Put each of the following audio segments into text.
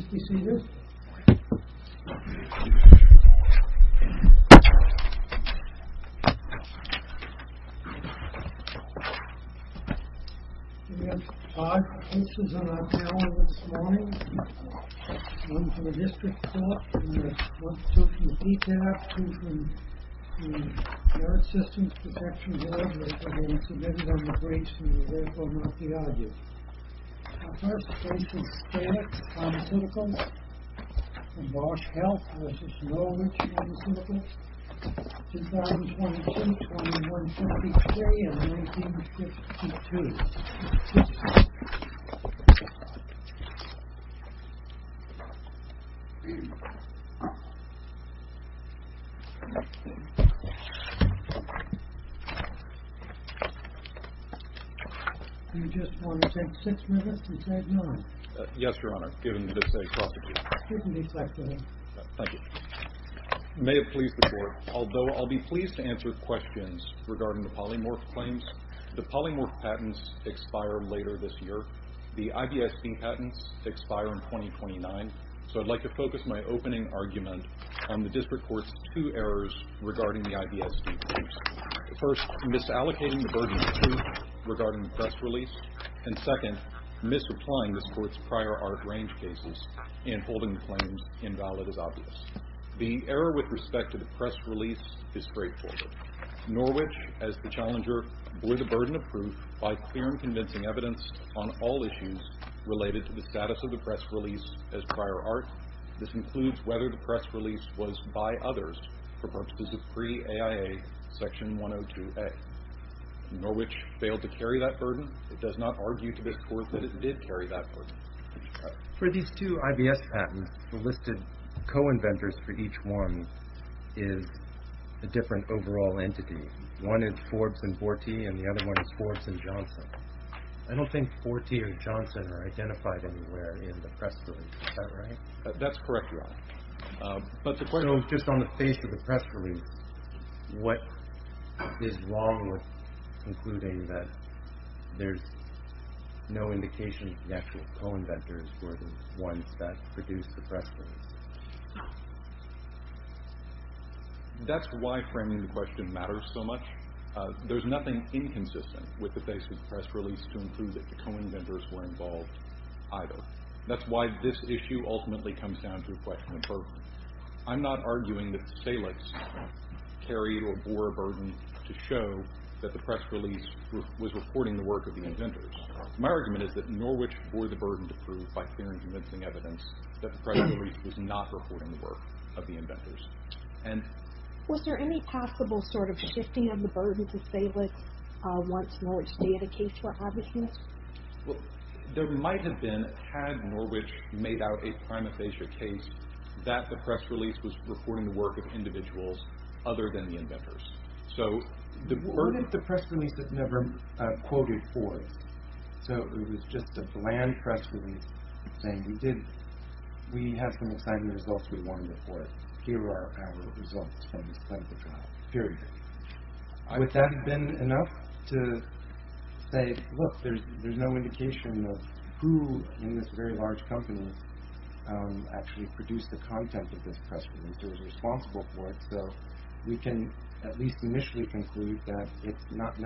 I have five cases on our panel this morning, one from a district court, one from ETAP, two from the Yard Systems Protection Board that have been submitted on the briefs from Norwich Pharmaceuticals and Bosch Health v. Norwich Pharmaceuticals, 2026, 2153, and 1952. May it please the Court, although I'll be pleased to answer questions regarding the expired later this year. The IBSD patents expire in 2029, so I'd like to focus my opening argument on the district court's two errors regarding the IBSD patents. First, misallocating the burden of two regarding the press release, and second, misapplying the court's prior art range cases and holding the claims invalid as obvious. The error with respect to the convincing evidence on all issues related to the status of the press release as prior art. This includes whether the press release was by others for purposes of pre-AIA Section 102A. Norwich failed to carry that burden. It does not argue to this Court that it did carry that burden. For these two IBS patents, the listed co-inventors for each one is a different overall entity. One is Forbes and Forte, and the other one is Forbes and Johnson. I don't think Forte or Johnson are identified anywhere in the press release. Is that right? That's correct, Your Honor. So just on the face of the press release, what is wrong with concluding that there's no indication that the actual co-inventors were the ones that matters so much? There's nothing inconsistent with the face of the press release to conclude that the co-inventors were involved either. That's why this issue ultimately comes down to a question of burden. I'm not arguing that Salix carried or bore a burden to show that the press release was reporting the work of the inventors. My argument is that Norwich bore the burden to prove, by fair and convincing evidence, that the press release was not reporting the work of the inventors. Was there any possible sort of shifting of the burden to Salix once Norwich's data case were published? There might have been had Norwich made out a prima facie case that the press release was reporting the work of individuals other than the inventors. So the burden of the press release is never quoted for us. So it was just a bland press release saying we have some exciting results we wanted to report. Here are our results from this clinical trial, period. Would that have been enough to say, look, there's no indication of who in this very large company actually produced the content of this press release or was responsible for it? So we can at least initially conclude that it's not I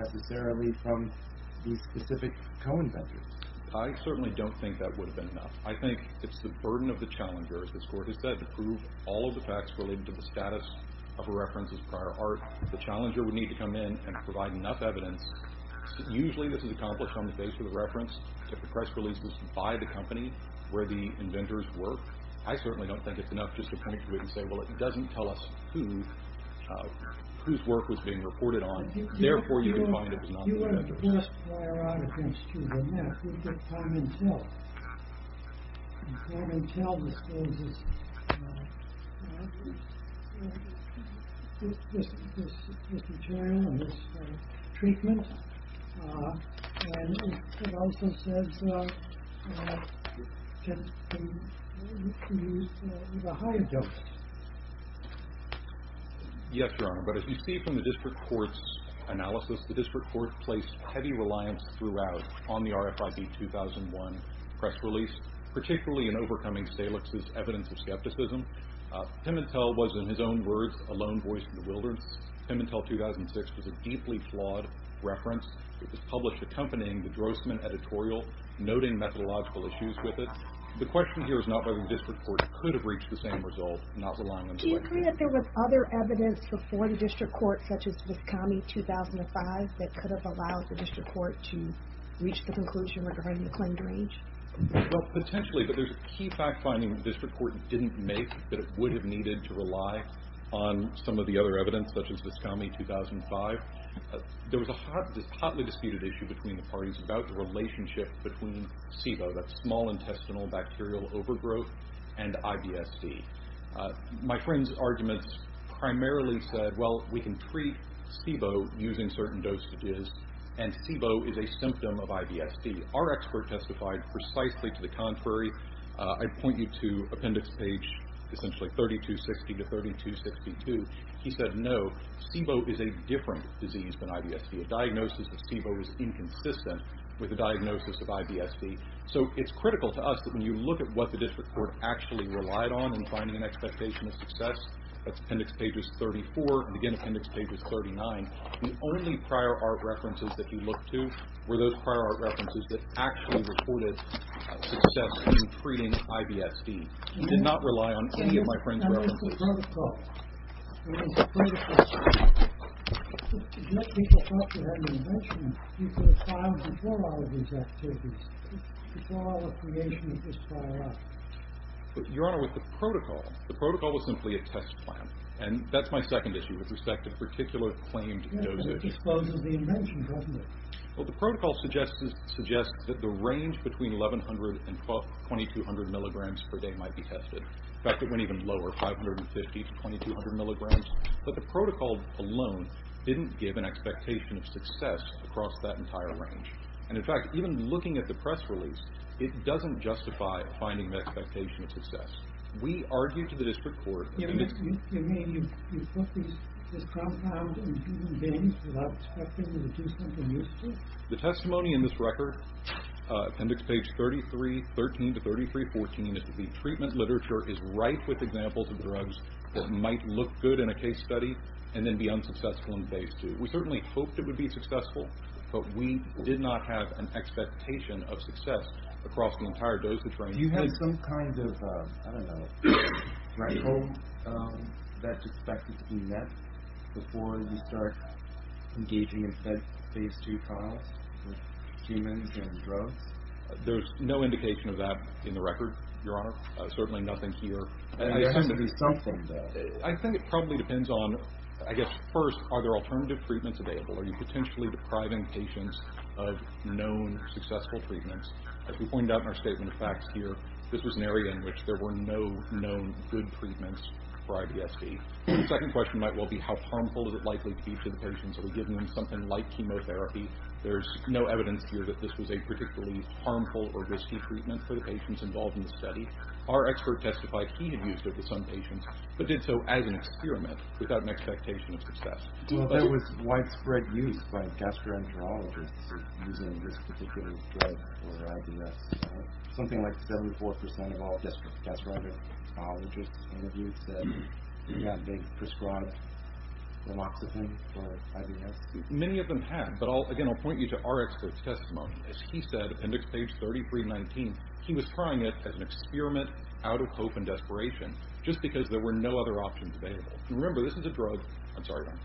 think it's the burden of the challenger, as this Court has said, to prove all of the facts related to the status of a reference as prior art. The challenger would need to come in and provide enough evidence. Usually this is accomplished on the basis of the reference that the press release was by the company where the inventors worked. I certainly don't think it's enough just to point to it and say, well, it doesn't tell us whose work was being reported on. Therefore, you can find it was not the inventors. The best prior art against you would be Parmentel. Parmentel discloses this material and this treatment, and it also says it was a higher dose. Yes, Your Honor. But as you see from the District Court's analysis, the District Court placed heavy reliance throughout on the RFID-2001 press release, particularly in overcoming Salix's evidence of skepticism. Pimentel was, in his own words, a lone voice in the wilderness. Pimentel 2006 was a deeply flawed reference. It was published accompanying the Drossman editorial, noting methodological issues with it. The question here is not whether the District Court could have reached the same result, not relying on Drossman. Do you agree that there was other evidence before the District Court, such as Viscomi 2005, that could have allowed the District Court to reach the conclusion regarding the claimed range? Well, potentially, but there's a key fact finding that the District Court didn't make that it would have needed to rely on some of the other evidence, such as Viscomi 2005. There was this hotly disputed issue between the parties about the relationship between SIBO, that's small intestinal bacterial overgrowth, and IBSD. My friend's arguments primarily said, well, we can treat SIBO using certain dosages, and SIBO is a symptom of IBSD. Our expert testified precisely to the contrary. I'd point you to appendix page, essentially 3260 to 3262. He said, no, SIBO is a different disease than IBSD. A diagnosis of SIBO is inconsistent with a diagnosis of IBSD. So it's critical to us that when you look at what the District Court actually relied on in finding an expectation of success, that's appendix pages 34 and again appendix pages 39, the only prior art references that you look to were those prior art references that actually reported success in treating IBSD. He did not rely on any of my friend's references. Your Honor, with the protocol, the protocol was simply a test plan, and that's my second issue, with respect to particular claimed dosages. Well, the protocol suggests that the range between 1,100 and 2,200 milligrams per day might be tested. In fact, it went even lower, 550 to 2,200 milligrams. But the protocol alone didn't give an expectation of success across that entire range. And in fact, even looking at the press release, it doesn't justify a finding of expectation of success. We argued to the District Court. You mean you put this compound in human beings without expecting them to do something useful? The testimony in this record, appendix page 3313 to 3314, is that the treatment literature is rife with examples of drugs that might look good in a case study and then be unsuccessful in phase two. We certainly hoped it would be successful, but we did not have an expectation of success across the entire dosage range. Do you have some kind of, I don't know, hope that's expected to be met before you start engaging in phase two trials with humans and drugs? There's no indication of that in the record, Your Honor. Certainly nothing here. I think it probably depends on, I guess, first, are there alternative treatments available? Are you potentially depriving patients of known successful treatments? As we pointed out in our statement of facts here, this was an area in which there were no known good treatments for IBSD. The second question might well be, how harmful is it likely to be to the patients? Are we giving them something like chemotherapy? There's no evidence here that this was a particularly harmful or risky treatment for the patients involved in the study. Our expert testified he had used it with some patients, but did so as an experiment without an expectation of success. Well, there was widespread use by gastroenterologists using this particular drug for IBS. Something like 74% of all gastroenterologists interviewed said they prescribed amoxifen for IBS. Many of them have, but again, I'll point you to our expert's testimony. As he said, appendix page 3319, he was trying it as an experiment out of hope and desperation, just because there were no other options available. And remember, this is a drug. I'm sorry, Your Honor.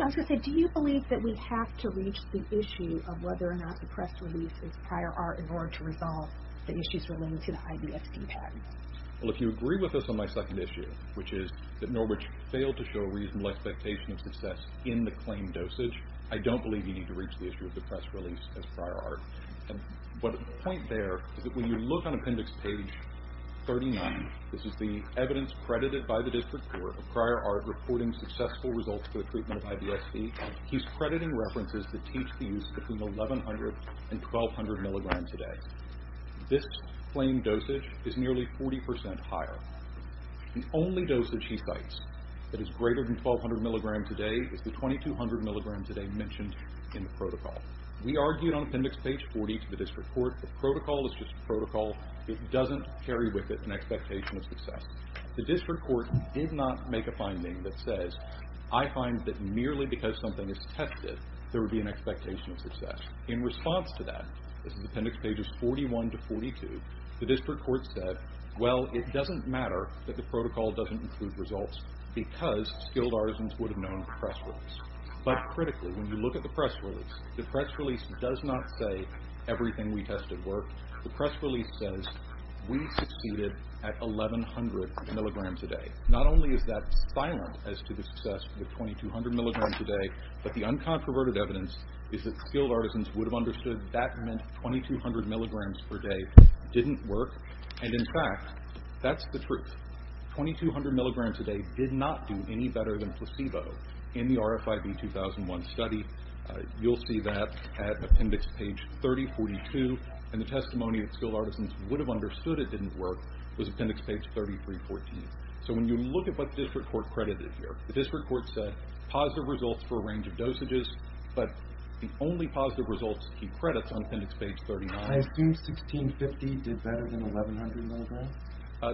I was going to say, do you believe that we have to reach the issue of whether or not the press release is prior art in order to resolve the issues relating to the IBSD patent? Well, if you agree with us on my second issue, which is that Norwich failed to show a reasonable expectation of success in the claim dosage, I don't believe you need to reach the issue of the press release as prior art. And the point there is that when you look on appendix page 39, this is the evidence credited by the district court of prior art reporting successful results for the treatment of IBSD. He's crediting references that teach the use between 1,100 and 1,200 milligrams a day. This claim dosage is nearly 40% higher. The only dosage he cites that is greater than 1,200 milligrams a day is the 2,200 milligrams a day mentioned in the protocol. We argued on appendix page 40 to the district court that protocol is just protocol. It doesn't carry with it an expectation of success. The district court did not make a finding that says, I find that merely because something is tested, there would be an expectation of success. In response to that, this is appendix pages 41 to 42, the district court said, well, it doesn't matter that the protocol doesn't include results because skilled artisans would have known press release. But critically, when you look at the press release, the press release does not say everything we tested worked. The press release says we succeeded at 1,100 milligrams a day. Not only is that silent as to the success of 2,200 milligrams a day, but the uncontroverted evidence is that skilled artisans would have understood that meant 2,200 milligrams per day didn't work. In fact, that's the truth. 2,200 milligrams a day did not do any better than placebo in the RFIB-2001 study. You'll see that at appendix page 30-42. The testimony that skilled artisans would have understood it didn't work was appendix page 33-14. When you look at what the district court credited here, the district court said positive results for a range of dosages, but the only positive results to keep credits on appendix page 39. I assume 1650 did better than 1,100 milligrams?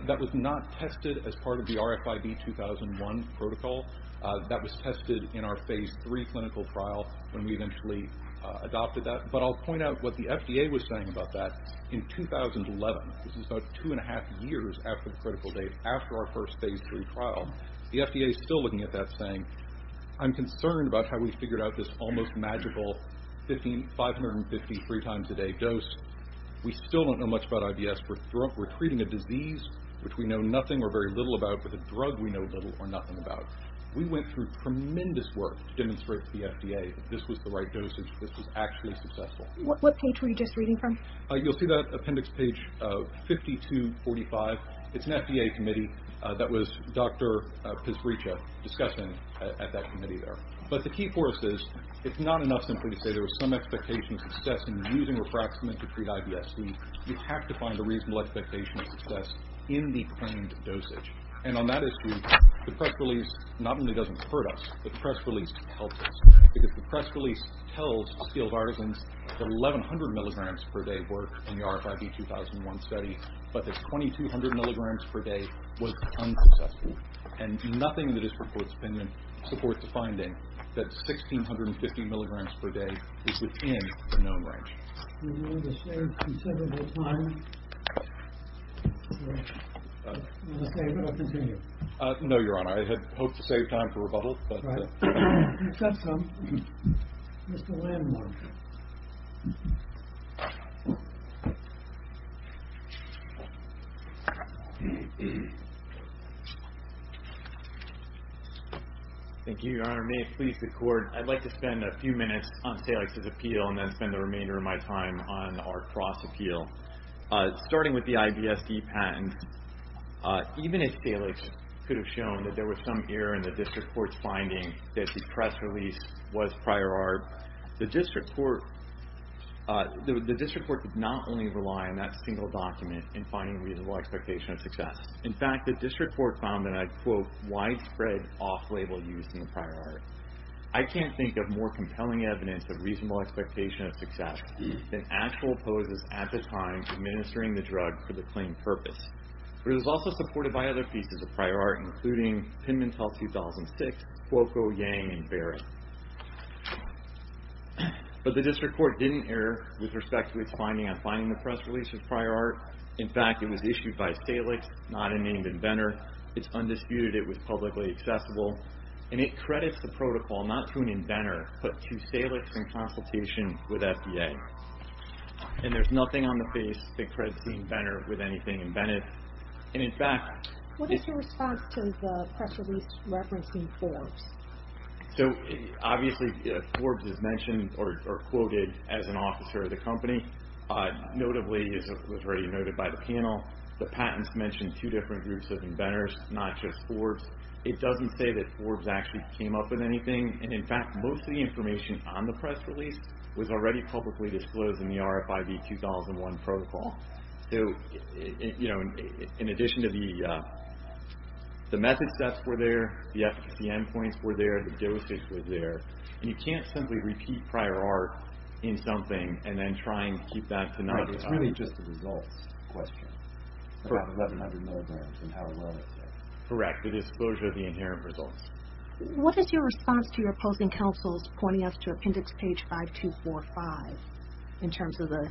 That was not tested as part of the RFIB-2001 protocol. That was tested in our phase three clinical trial when we eventually adopted that. But I'll point out what the FDA was saying about that. In 2011, this is about two and a half years after the critical date, after our first phase three trial, the FDA is still looking at that saying, I'm concerned about how we figured out this almost magical 553 times a day dose. We still don't know much about IBS. We're treating a disease, which we know nothing or very little about, with a drug we know little or nothing about. We went through tremendous work to demonstrate to the FDA that this was the right dosage. This was actually successful. What page were you just reading from? You'll see that appendix page 52-45. It's an FDA committee that was Dr. Pizrice discussing at that committee there. But the key for us is, it's not enough simply to say there was some expectation of success in using refractment to treat IBS. We have to find a reasonable expectation of success in the claimed dosage. And on that issue, the press release not only doesn't hurt us, but the press release helps us. Because the press release tells skilled artisans that 1,100 milligrams per day worked in the RFIB-2001 study, but that 2,200 milligrams per day was unsuccessful. And nothing in the district court's opinion supports the finding that 1,650 milligrams per day is within the known range. Do you want me to save considerable time? I'm going to save it. I'll continue. No, Your Honor. I had hoped to save time for rebuttal. I've got some. Mr. Landmark. Thank you, Your Honor. May it please the Court, I'd like to spend a few minutes on Salix's appeal and then spend the remainder of my time on our cross-appeal. Starting with the IBSD patent, even if Salix could have shown that there was some error in the district court's finding that the press release was prior art, the district court did not only rely on that single document in finding reasonable expectation of success. In fact, the district court found that I quote, widespread off-label use in the prior art. I can't think of more compelling evidence of reasonable expectation of success than actual poses at the time administering the drug for the claimed purpose. But it was also supported by other pieces of prior art, including Pimentel 2006, Cuoco, Yang, and Barrett. But the district court didn't err with respect to its finding on finding the press release as prior art. In fact, it was issued by Salix, not a named inventor. It's undisputed it was publicly accessible. And it credits the protocol not to an inventor, but to Salix in consultation with FDA. And there's nothing on the face that credits the inventor with anything inventive. And in fact... What is your response to the press release referencing Forbes? So obviously, Forbes is mentioned or quoted as an officer of the company. Notably, as was already noted by the panel, the patents mentioned two different groups of inventors, not just Forbes. It doesn't say that Forbes actually came up with anything. And in fact, most of the information on the press release was already publicly disclosed in the RFID 2001 protocol. So, you know, in addition to the method steps were there, the efficacy endpoints were there, the dosage was there. And you can't simply repeat prior art in something and then try and keep that to... Right. It's really just a results question. About 1100 milligrams and how well it's there. Correct. The disclosure of the inherent results. What is your response to your opposing counsel's pointing us to appendix page 5245 in terms of the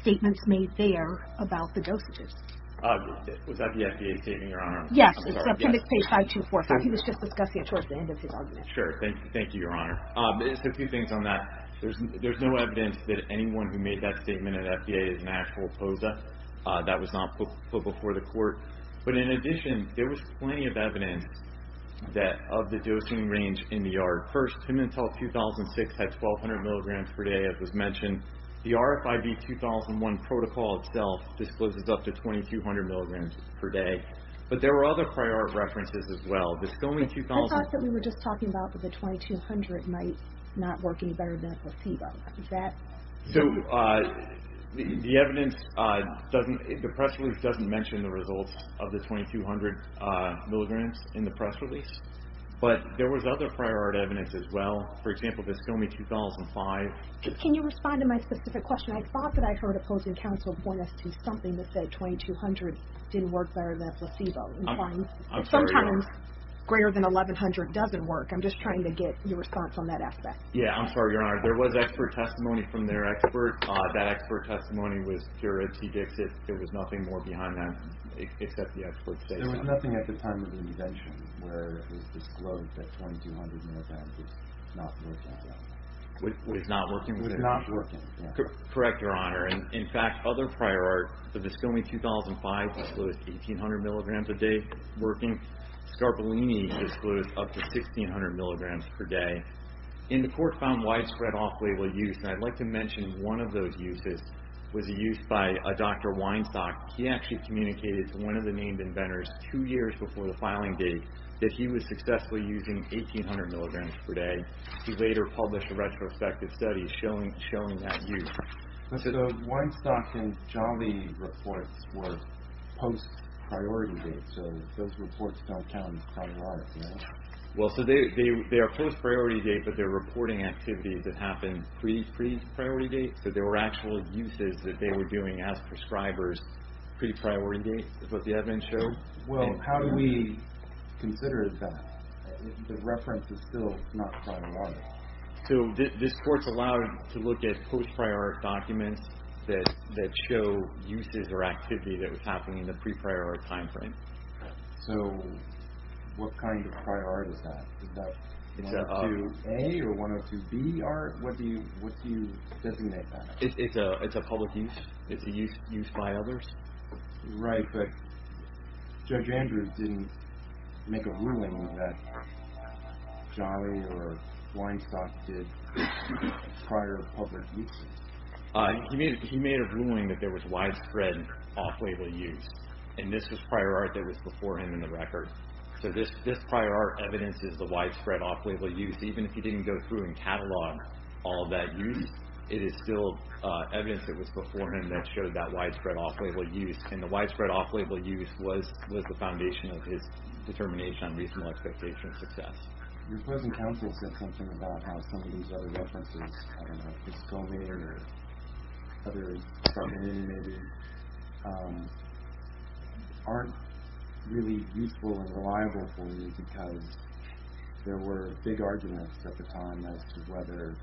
statements made there about the dosages? Was that the FDA statement, Your Honor? Yes. It's appendix page 5245. He was just discussing it towards the end of his argument. Sure. Thank you, Your Honor. A few things on that. There's no evidence that anyone who made that statement at FDA is an actual POSA. That was not put before the court. But in addition, there was plenty of evidence that of the dosing range in the yard. First, Pimentel 2006 had 1200 milligrams per day, as was mentioned. The RFID 2001 protocol itself discloses up to 2200 milligrams per day. But there were other prior art references as well. There's still only 2000... I thought that we were just talking about that the 2200 might not work any better than placebo. Is that... So the evidence doesn't... The press release doesn't mention the results of the 2200 milligrams in the press release. But there was other prior art evidence as well. For example, this filming 2005... Can you respond to my specific question? I thought that I heard opposing counsel point us to something that said 2200 didn't work better than placebo. I'm sorry, Your Honor. Sometimes greater than 1100 doesn't work. I'm just trying to get your response on that aspect. Yeah, I'm sorry, Your Honor. There was expert testimony from their expert. That expert testimony was pure edtdicts. There was nothing more behind that except the expert's statement. There was nothing at the time of the invention where it was disclosed that 2200 milligrams was not working. Was not working? Was not working, yeah. Correct, Your Honor. In fact, other prior art, the Viscomi 2005 disclosed 1800 milligrams a day working. Scarbellini disclosed up to 1600 milligrams per day. And the court found widespread off-label use. And I'd like to mention one of those uses was a use by a Dr. Weinstock. He actually communicated to one of the named inventors two years before the filing date that he was successfully using 1800 milligrams per day. He later published a retrospective study showing that use. So the Weinstock and Javy reports were post-priority dates. So those reports don't count as prior arts, no? Well, so they are post-priority dates, but they're reporting activities that happened pre-priority dates. So there were actual uses that they were doing as prescribers pre-priority dates is what the admin showed. Well, how do we consider that? The reference is still not prior art. So this court's allowed to look at post-priority documents that show uses or activity that was happening in the pre-priority time frame. So what kind of prior art is that? Is that 102A or 102B art? What do you designate that? It's a public use. It's a use by others. Right, but Judge Andrews didn't make a ruling that Javy or Weinstock did prior public uses. He made a ruling that there was widespread off-label use. And this was prior art that was before him in the record. So this prior art evidence is the widespread off-label use. Even if he didn't go through and catalog all that use, it is still evidence that was before him that showed that widespread off-label use. And the widespread off-label use was the foundation of his determination on reasonable expectation of success. Your opposing counsel said something about how some of these other references, I don't know, Piscoli or others, maybe, aren't really useful and reliable for you because there were big arguments at the time as to whether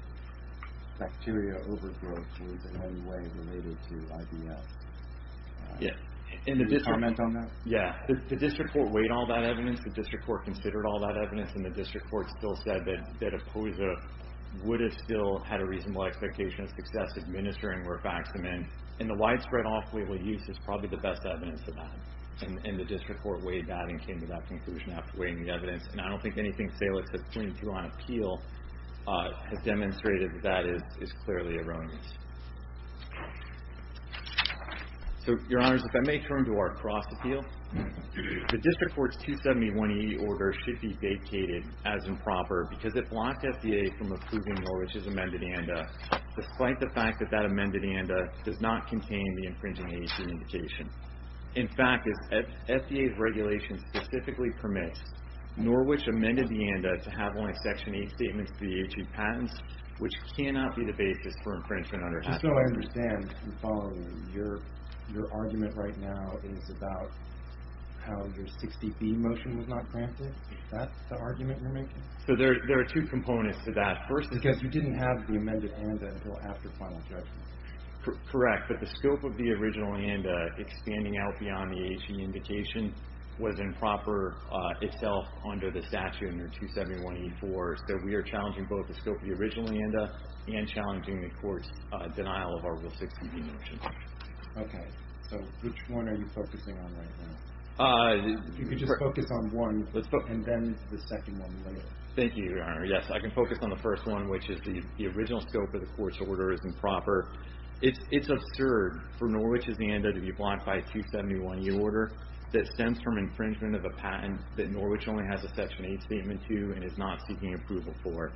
bacteria overgrowth was in any way related to IBS. Can you comment on that? Yeah. The district court weighed all that evidence. The district court considered all that evidence. And the district court still said that Opoza would have still had a reasonable expectation of success administering Rifaximin. And the widespread off-label use is probably the best evidence of that. And the district court weighed that and came to that conclusion after weighing the evidence. And I don't think anything Salis has pointed to on appeal has demonstrated that that is clearly erroneous. So, Your Honors, if I may turn to our cross appeal. The district court's 271E order should be vacated as improper because it blocked FDA from approving Norwich's amended ANDA, despite the fact that that amended ANDA does not contain the infringing agency indication. In fact, FDA's regulations specifically permit Norwich's amended ANDA to have only Section 8 statements to the H.E. patents, which cannot be the basis for infringement under H.E. Just so I understand, Your Honor, your argument right now is about how your 60B motion was not granted? Is that the argument you're making? There are two components to that. Because you didn't have the amended ANDA until after final judgment. Correct. But the scope of the original ANDA, expanding out beyond the H.E. indication, was improper itself under the statute under 271E4. So we are challenging both the scope of the original ANDA and challenging the court's denial of our Rule 60B motion. Okay. So which one are you focusing on right now? You can just focus on one, and then the second one later. Thank you, Your Honor. Yes, I can focus on the first one, which is the original scope of the court's order is improper. It's absurd for Norwich's ANDA to be blocked by a 271E order that stems from infringement of a patent that Norwich only has a Section 8 statement to and is not seeking approval for.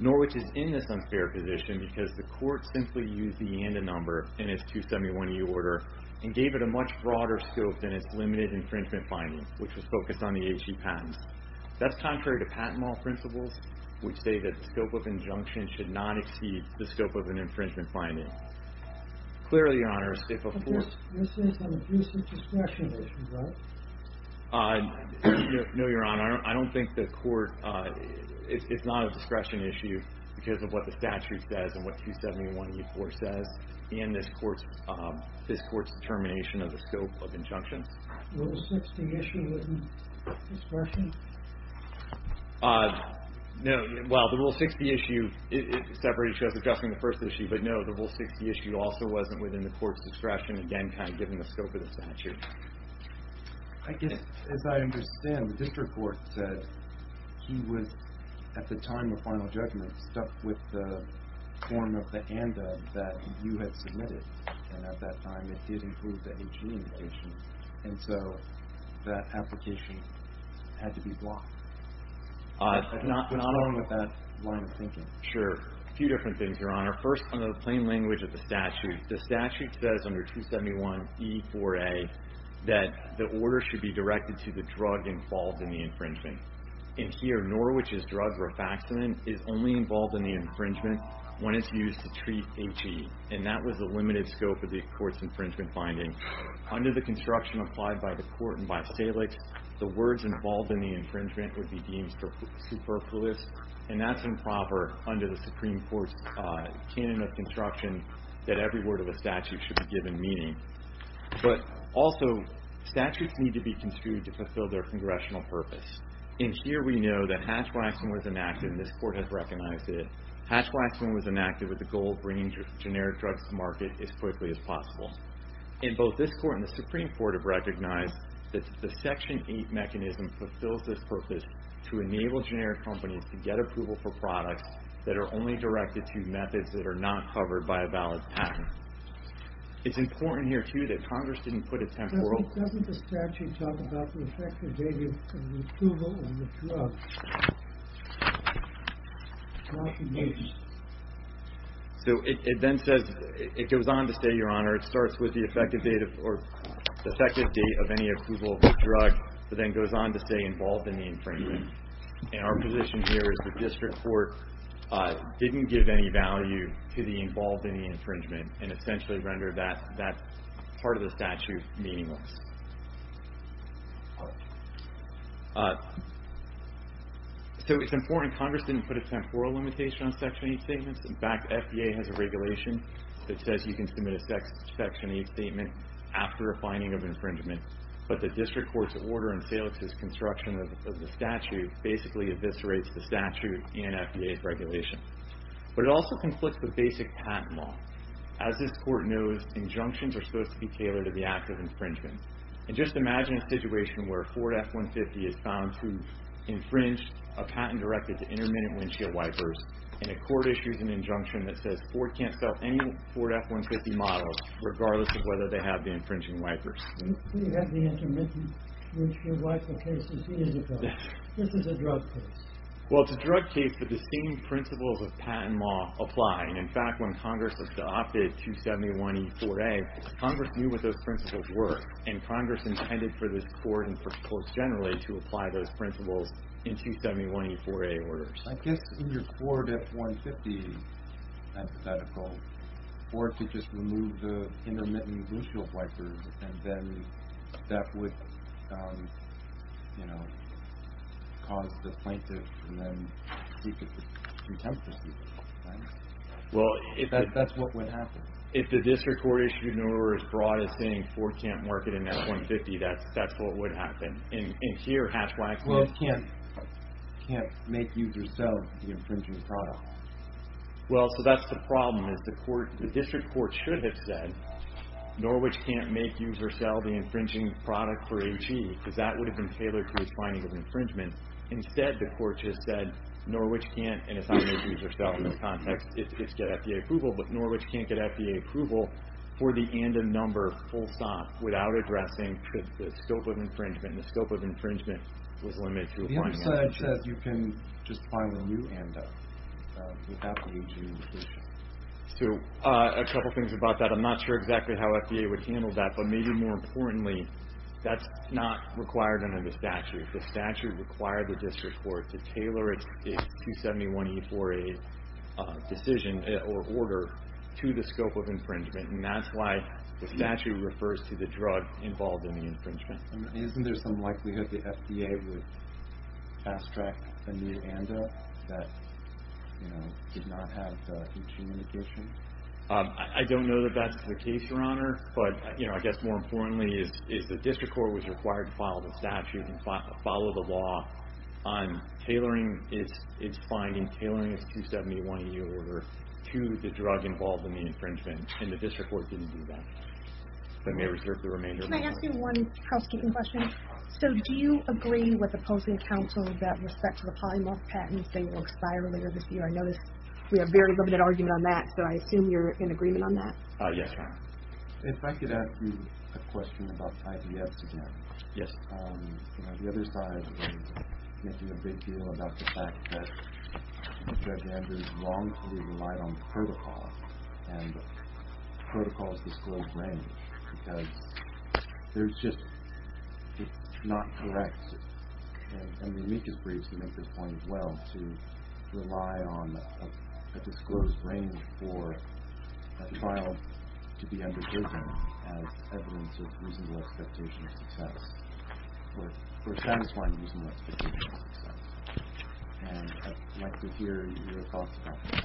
Norwich is in this unfair position because the court simply used the ANDA number in its 271E order and gave it a much broader scope than its limited infringement finding, which was focused on the H.E. patents. That's contrary to patent law principles, which state that the scope of injunction should not exceed the scope of an infringement finding. Clearly, Your Honor, if a court This is an abuse of discretion issue, right? No, Your Honor. I don't think the court, it's not a discretion issue because of what the statute says and what 271E4 says in this court's determination of the scope of injunctions. The Rule 60 issue wasn't discretion? No, well, the Rule 60 issue, it separates you as addressing the first issue, but no, the Rule 60 issue also wasn't within the court's discretion, again, kind of given the scope of the statute. I guess, as I understand, the district court said he was, at the time of final judgment, stuck with the form of the ANDA that you had submitted, and at that time it did include the H.E. indication, and so that application had to be blocked. I'm not along with that line of thinking. Sure. A few different things, Your Honor. First, under the plain language of the statute, the statute says under 271E4A that the order should be directed to the drug involved in the infringement. And here, Norwich's drug, rifaximin, is only involved in the infringement when it's used to treat H.E., and that was the limited scope of the court's infringement finding. Under the construction applied by the court and by Salix, the words involved in the infringement would be deemed superfluous, and that's improper under the Supreme Court's canon of construction that every word of the statute should be given meaning. But also, statutes need to be construed to fulfill their congressional purpose. And here we know that Hatch-Waxman was enacted, and this court has recognized it. Hatch-Waxman was enacted with the goal of bringing generic drugs to market as quickly as possible. And both this court and the Supreme Court have recognized that the Section 8 mechanism fulfills this purpose to enable generic companies to get approval for products that are only directed to methods that are not covered by a valid patent. It's important here, too, that Congress didn't put a temporal... ...approval of the drug... So it then says, it goes on to say, Your Honor, it starts with the effective date of, or the effective date of any approval of the drug, but then goes on to say involved in the infringement. And our position here is the district court didn't give any value to the involved in the infringement and essentially rendered that part of the statute meaningless. So it's important Congress didn't put a temporal limitation on Section 8 statements. In fact, FDA has a regulation that says you can submit a Section 8 statement after a finding of infringement. But the district court's order in Salix's construction of the statute basically eviscerates the statute and FDA's regulation. But it also conflicts with basic patent law. As this court knows, injunctions are supposed to be tailored to the act of infringement. And just imagine a situation where a Ford F-150 is found to infringe a patent directed to intermittent windshield wipers and a court issues an injunction that says Ford can't sell any Ford F-150 models regardless of whether they have the infringing wipers. We have the intermittent windshield wiper case. This is a drug case. Well, it's a drug case, but the same principles of patent law apply. In fact, when Congress adopted 271E4A, Congress knew what those principles were, and Congress intended for this court and for courts generally to apply those principles in 271E4A orders. I guess in your Ford F-150 hypothetical, Ford could just remove the intermittent windshield wipers, and then that would, you know, cause the plaintiff to then seek a contempt for seeking, right? Well, if that's what would happen. If the district court issued an order as broad as saying Ford can't market an F-150, that's what would happen. And here, hatchbacks can't make users sell the infringing product. Well, so that's the problem. The district court should have said Norwich can't make users sell the infringing product for AG, because that would have been tailored to the finding of infringement. Instead, the court just said Norwich can't, and it's not make users sell in this context. It's get FDA approval, but Norwich can't get FDA approval for the ANDA number full stop without addressing the scope of infringement, and the scope of infringement was limited to one. So it says you can just find a new ANDA without the AG inclusion. So a couple things about that. I'm not sure exactly how FDA would handle that, but maybe more importantly, that's not required under the statute. The statute required the district court to tailor its 271E4A decision or order to the scope of infringement, and that's why the statute refers to the drug involved in the infringement. Isn't there some likelihood the FDA would fast-track a new ANDA that did not have each indication? I don't know that that's the case, Your Honor, but I guess more importantly is the district court was required to follow the statute and follow the law on tailoring its finding, tailoring its 271E order to the drug involved in the infringement, and the district court didn't do that. I may reserve the remainder of my time. Can I ask you one housekeeping question? So do you agree with opposing counsel that with respect to the polymorph patents, they will expire later this year? I notice we have a very limited argument on that, so I assume you're in agreement on that? Yes, Your Honor. If I could ask you a question about IBS again. Yes. The other side was making a big deal about the fact that Judge Andrews wrongfully relied on protocol, and protocol is disclosed range because there's just not correct, and the amicus briefs make this point as well, to rely on a disclosed range for a trial to be undergirded as evidence of reasonable expectation of success or a satisfying reasonable expectation of success. And I'd like to hear your thoughts about that.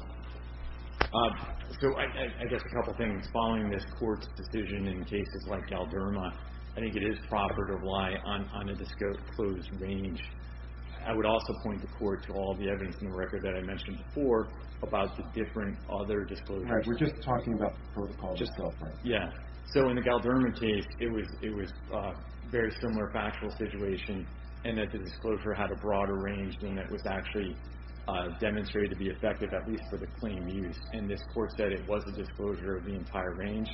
So I guess a couple things. Following this court's decision in cases like Galderma, I think it is proper to rely on a disclosed range. I would also point the court to all of the evidence in the record that I mentioned before about the different other disclosures. All right. We're just talking about the protocol itself, right? Yeah. So in the Galderma case, it was a very similar factual situation in that the disclosure had a broader range and it was actually demonstrated to be effective, at least for the claim used. And this court said it was a disclosure of the entire range.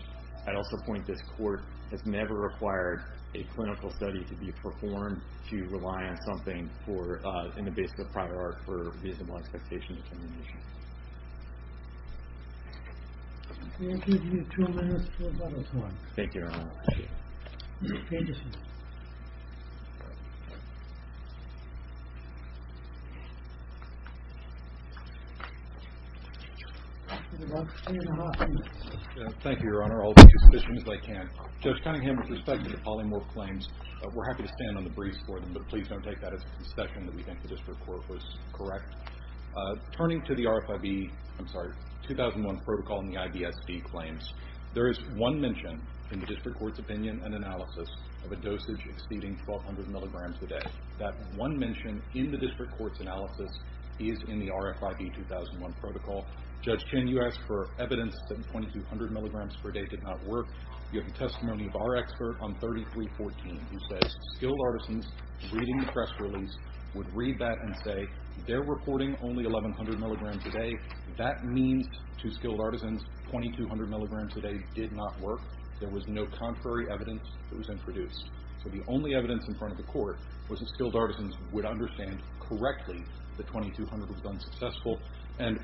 I'd also point this court has never required a clinical study to be performed to rely on something in the basis of prior art for reasonable expectation determination. We'll give you two minutes for a bottle of wine. Thank you. Mr. Peterson. Thank you, Your Honor. I'll be as sufficient as I can. Judge Cunningham, with respect to the polymorph claims, we're happy to stand on the briefs for them, but please don't take that as a concession that we think the district court was correct. Turning to the RFIB, I'm sorry, 2001 protocol and the IBSD claims, there is one mention in the district court's opinion and analysis of a dosage exceeding 1,200 milligrams a day. That one mention in the district court's opinion is in the RFIB 2001 protocol. Judge Chin, you asked for evidence that 2,200 milligrams per day did not work. You have the testimony of our expert on 3314, who says skilled artisans, reading the press release, would read that and say, they're reporting only 1,100 milligrams a day. That means to skilled artisans 2,200 milligrams a day did not work. There was no contrary evidence that was introduced. So the only evidence in front of the court was that skilled artisans would understand correctly that 2,200 was unsuccessful.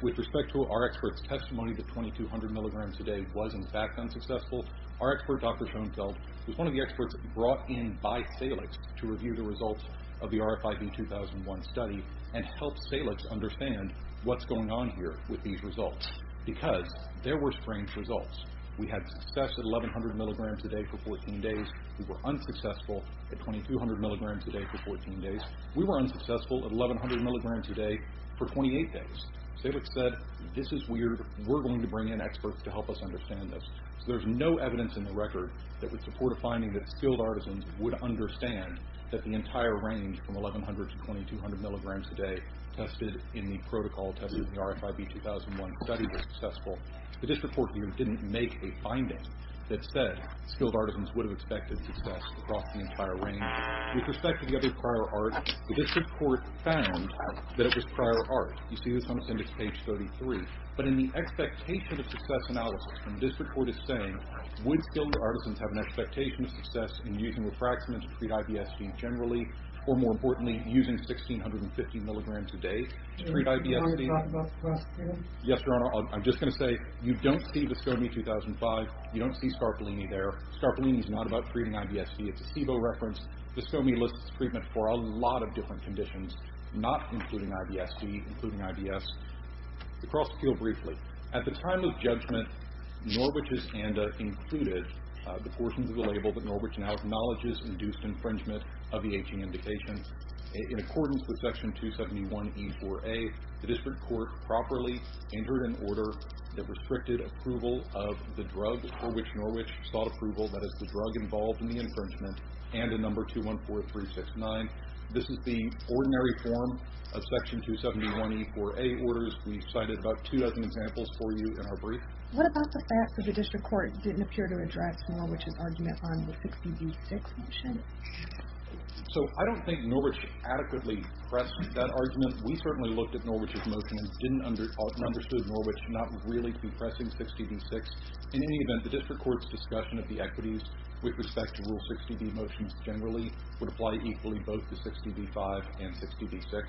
With respect to our expert's testimony that 2,200 milligrams a day was in fact unsuccessful, our expert, Dr. Schoenfeld, was one of the experts brought in by Salix to review the results of the RFIB 2001 study and help Salix understand what's going on here with these results, because there were strange results. We had success at 1,100 milligrams a day for 14 days. We were unsuccessful at 2,200 milligrams a day for 14 days. We were unsuccessful at 1,100 milligrams a day for 28 days. Salix said, this is weird. We're going to bring in experts to help us understand this. So there's no evidence in the record that would support a finding that skilled artisans would understand that the entire range from 1,100 to 2,200 milligrams a day tested in the protocol, tested in the RFIB 2001 study, was successful. The district court here didn't make a finding that said With respect to the other prior art, the district court found that it was prior art. You see this on appendix page 33. But in the expectation of success analysis, the district court is saying, would skilled artisans have an expectation of success in using refractment to treat IBSD generally, or more importantly, using 1,650 milligrams a day to treat IBSD? Yes, Your Honor, I'm just going to say, you don't see Viscomi 2005. You don't see Scarpolini there. Scarpolini is not about treating IBSD. It's a SIBO reference. Viscomi lists treatment for a lot of different conditions, not including IBSD, including IBS. The cross-appeal briefly. At the time of judgment, Norwich's ANDA included the portions of the label that Norwich now acknowledges induced infringement of the aging indication. In accordance with section 271E4A, the district court properly entered an order that restricted approval of the drug before which Norwich sought approval, that is, the drug involved in the infringement, and a number 214369. This is the ordinary form of section 271E4A orders. We've cited about two dozen examples for you in our brief. What about the fact that the district court didn't appear to address Norwich's argument on the 60D6 motion? So I don't think Norwich adequately pressed that argument. We certainly looked at Norwich's motion and understood Norwich not really to be pressing 60D6. In any event, the district court's discussion of the equities with respect to Rule 60D motions generally would apply equally both to 60D5 and 60D6.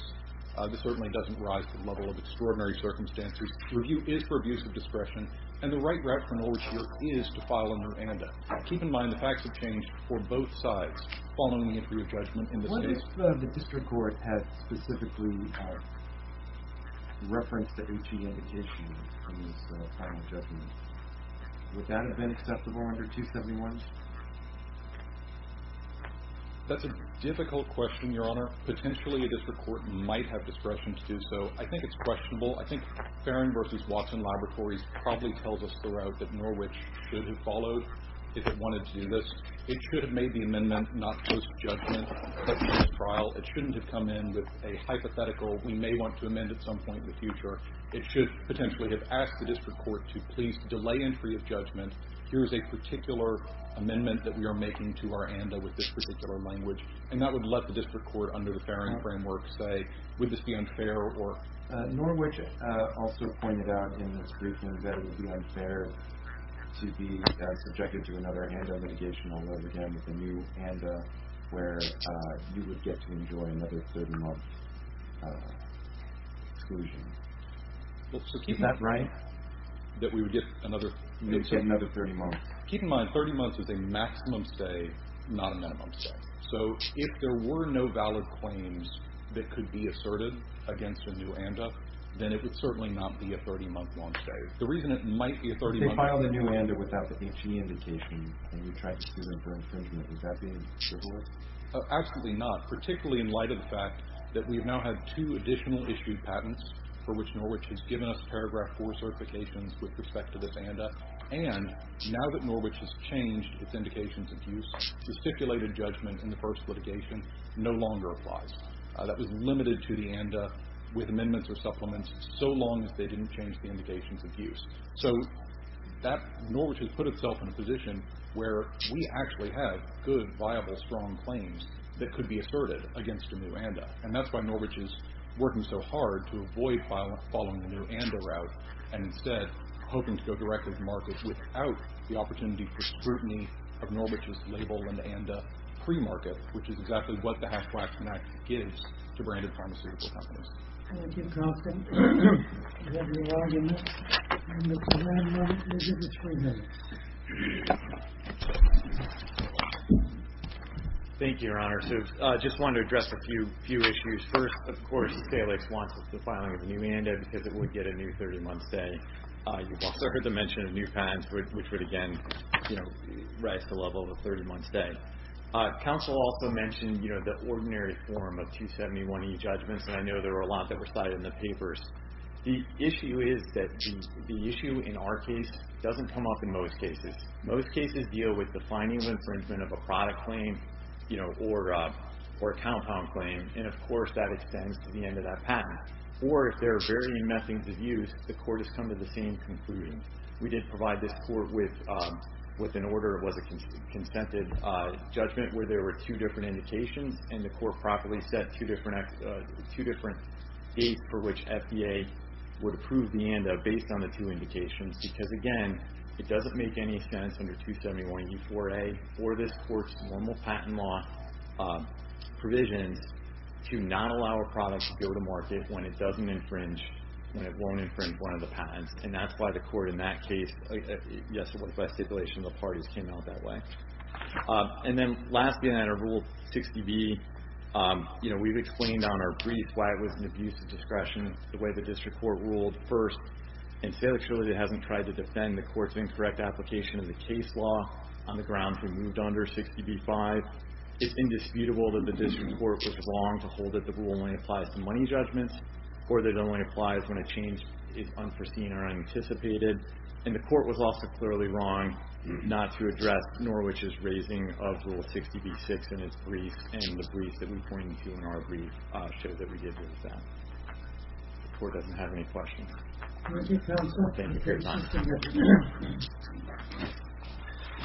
This certainly doesn't rise to the level of extraordinary circumstances. The review is for abuse of discretion, and the right route for Norwich here is to file under ANDA. Keep in mind the facts have changed for both sides following the entry of judgment in this case. The district court had specifically referenced the HG indication from this final judgment. Would that have been acceptable under 271? That's a difficult question, Your Honor. Potentially a district court might have discretion to do so. I think it's questionable. I think Farron v. Watson Laboratories probably tells us the route that Norwich should have followed if it wanted to do this. It should have made the amendment not post-judgment, but post-trial. It shouldn't have come in with a hypothetical we may want to amend at some point in the future. It should potentially have asked the district court to please delay entry of judgment. Here's a particular amendment that we are making to our ANDA with this particular language. And that would let the district court under the Farron framework say, would this be unfair or... Norwich also pointed out in this briefing that it would be unfair to be subjected to another ANDA litigation, although again with a new ANDA where you would get to enjoy another 30 months exclusion. Is that right? That we would get another 30 months. Keep in mind, 30 months is a maximum stay, not a minimum stay. So if there were no valid claims that could be asserted against a new ANDA, then it would certainly not be a 30-month-long stay. The reason it might be a 30-month... If they filed a new ANDA without the H.E. indication and we tried to sue them for infringement, is that being trivialized? Absolutely not, particularly in light of the fact that we've now had two additional issued patents for which Norwich has given us paragraph 4 certifications with respect to this ANDA. And now that Norwich has changed its indications of use, the stipulated judgment in the first litigation no longer applies. That was limited to the ANDA with amendments or supplements so long as they didn't change the indications of use. So Norwich has put itself in a position where we actually have good, viable, strong claims that could be asserted against a new ANDA. And that's why Norwich is working so hard to avoid following the new ANDA route and instead hoping to go directly to market without the opportunity for scrutiny of Norwich's label and ANDA pre-market, which is exactly what the Hatch-Klaxon Act gives to branded pharmaceutical companies. Thank you, Constance. Do we have any arguments? Mr. Landau, you have three minutes. Thank you, Your Honor. So I just wanted to address a few issues. First, of course, Salix wants the filing of the new ANDA because it would get a new 30-month stay. You've also heard the mention of new patents which would, again, rise to the level of a 30-month stay. Counsel also mentioned the ordinary form of 271e judgments, and I know there were a lot that were cited in the papers. The issue is that the issue in our case doesn't come up in most cases. Most cases deal with the finding of infringement of a product claim or a compound claim, and, of course, that extends to the end of that patent. Or if there are varying methods of use, the court has come to the same conclusion. We did provide this court with an order. It was a consented judgment where there were two different indications, and the court properly set two different dates for which FDA would approve the ANDA based on the two indications because, again, it doesn't make any sense under 271e4a or this court's normal patent law provisions to not allow a product to go to market when it doesn't infringe, when it won't infringe one of the patents, and that's why the court in that case, yes, it was by stipulation of the parties, came out that way. And then, lastly, in our Rule 60b, we've explained on our brief why it was an abuse of discretion the way the district court ruled first, and Salek surely hasn't tried to defend the court's incorrect application of the case law on the grounds we moved under 60b-5. It's indisputable that the district court was wrong to hold that the rule only applies to money judgments or that it only applies when a change is unforeseen or unanticipated, and the court was also clearly wrong not to address Norwich's raising of Rule 60b-6 in its brief and the brief that we pointed to in our brief show that we did with that. The court doesn't have any questions. Thank you.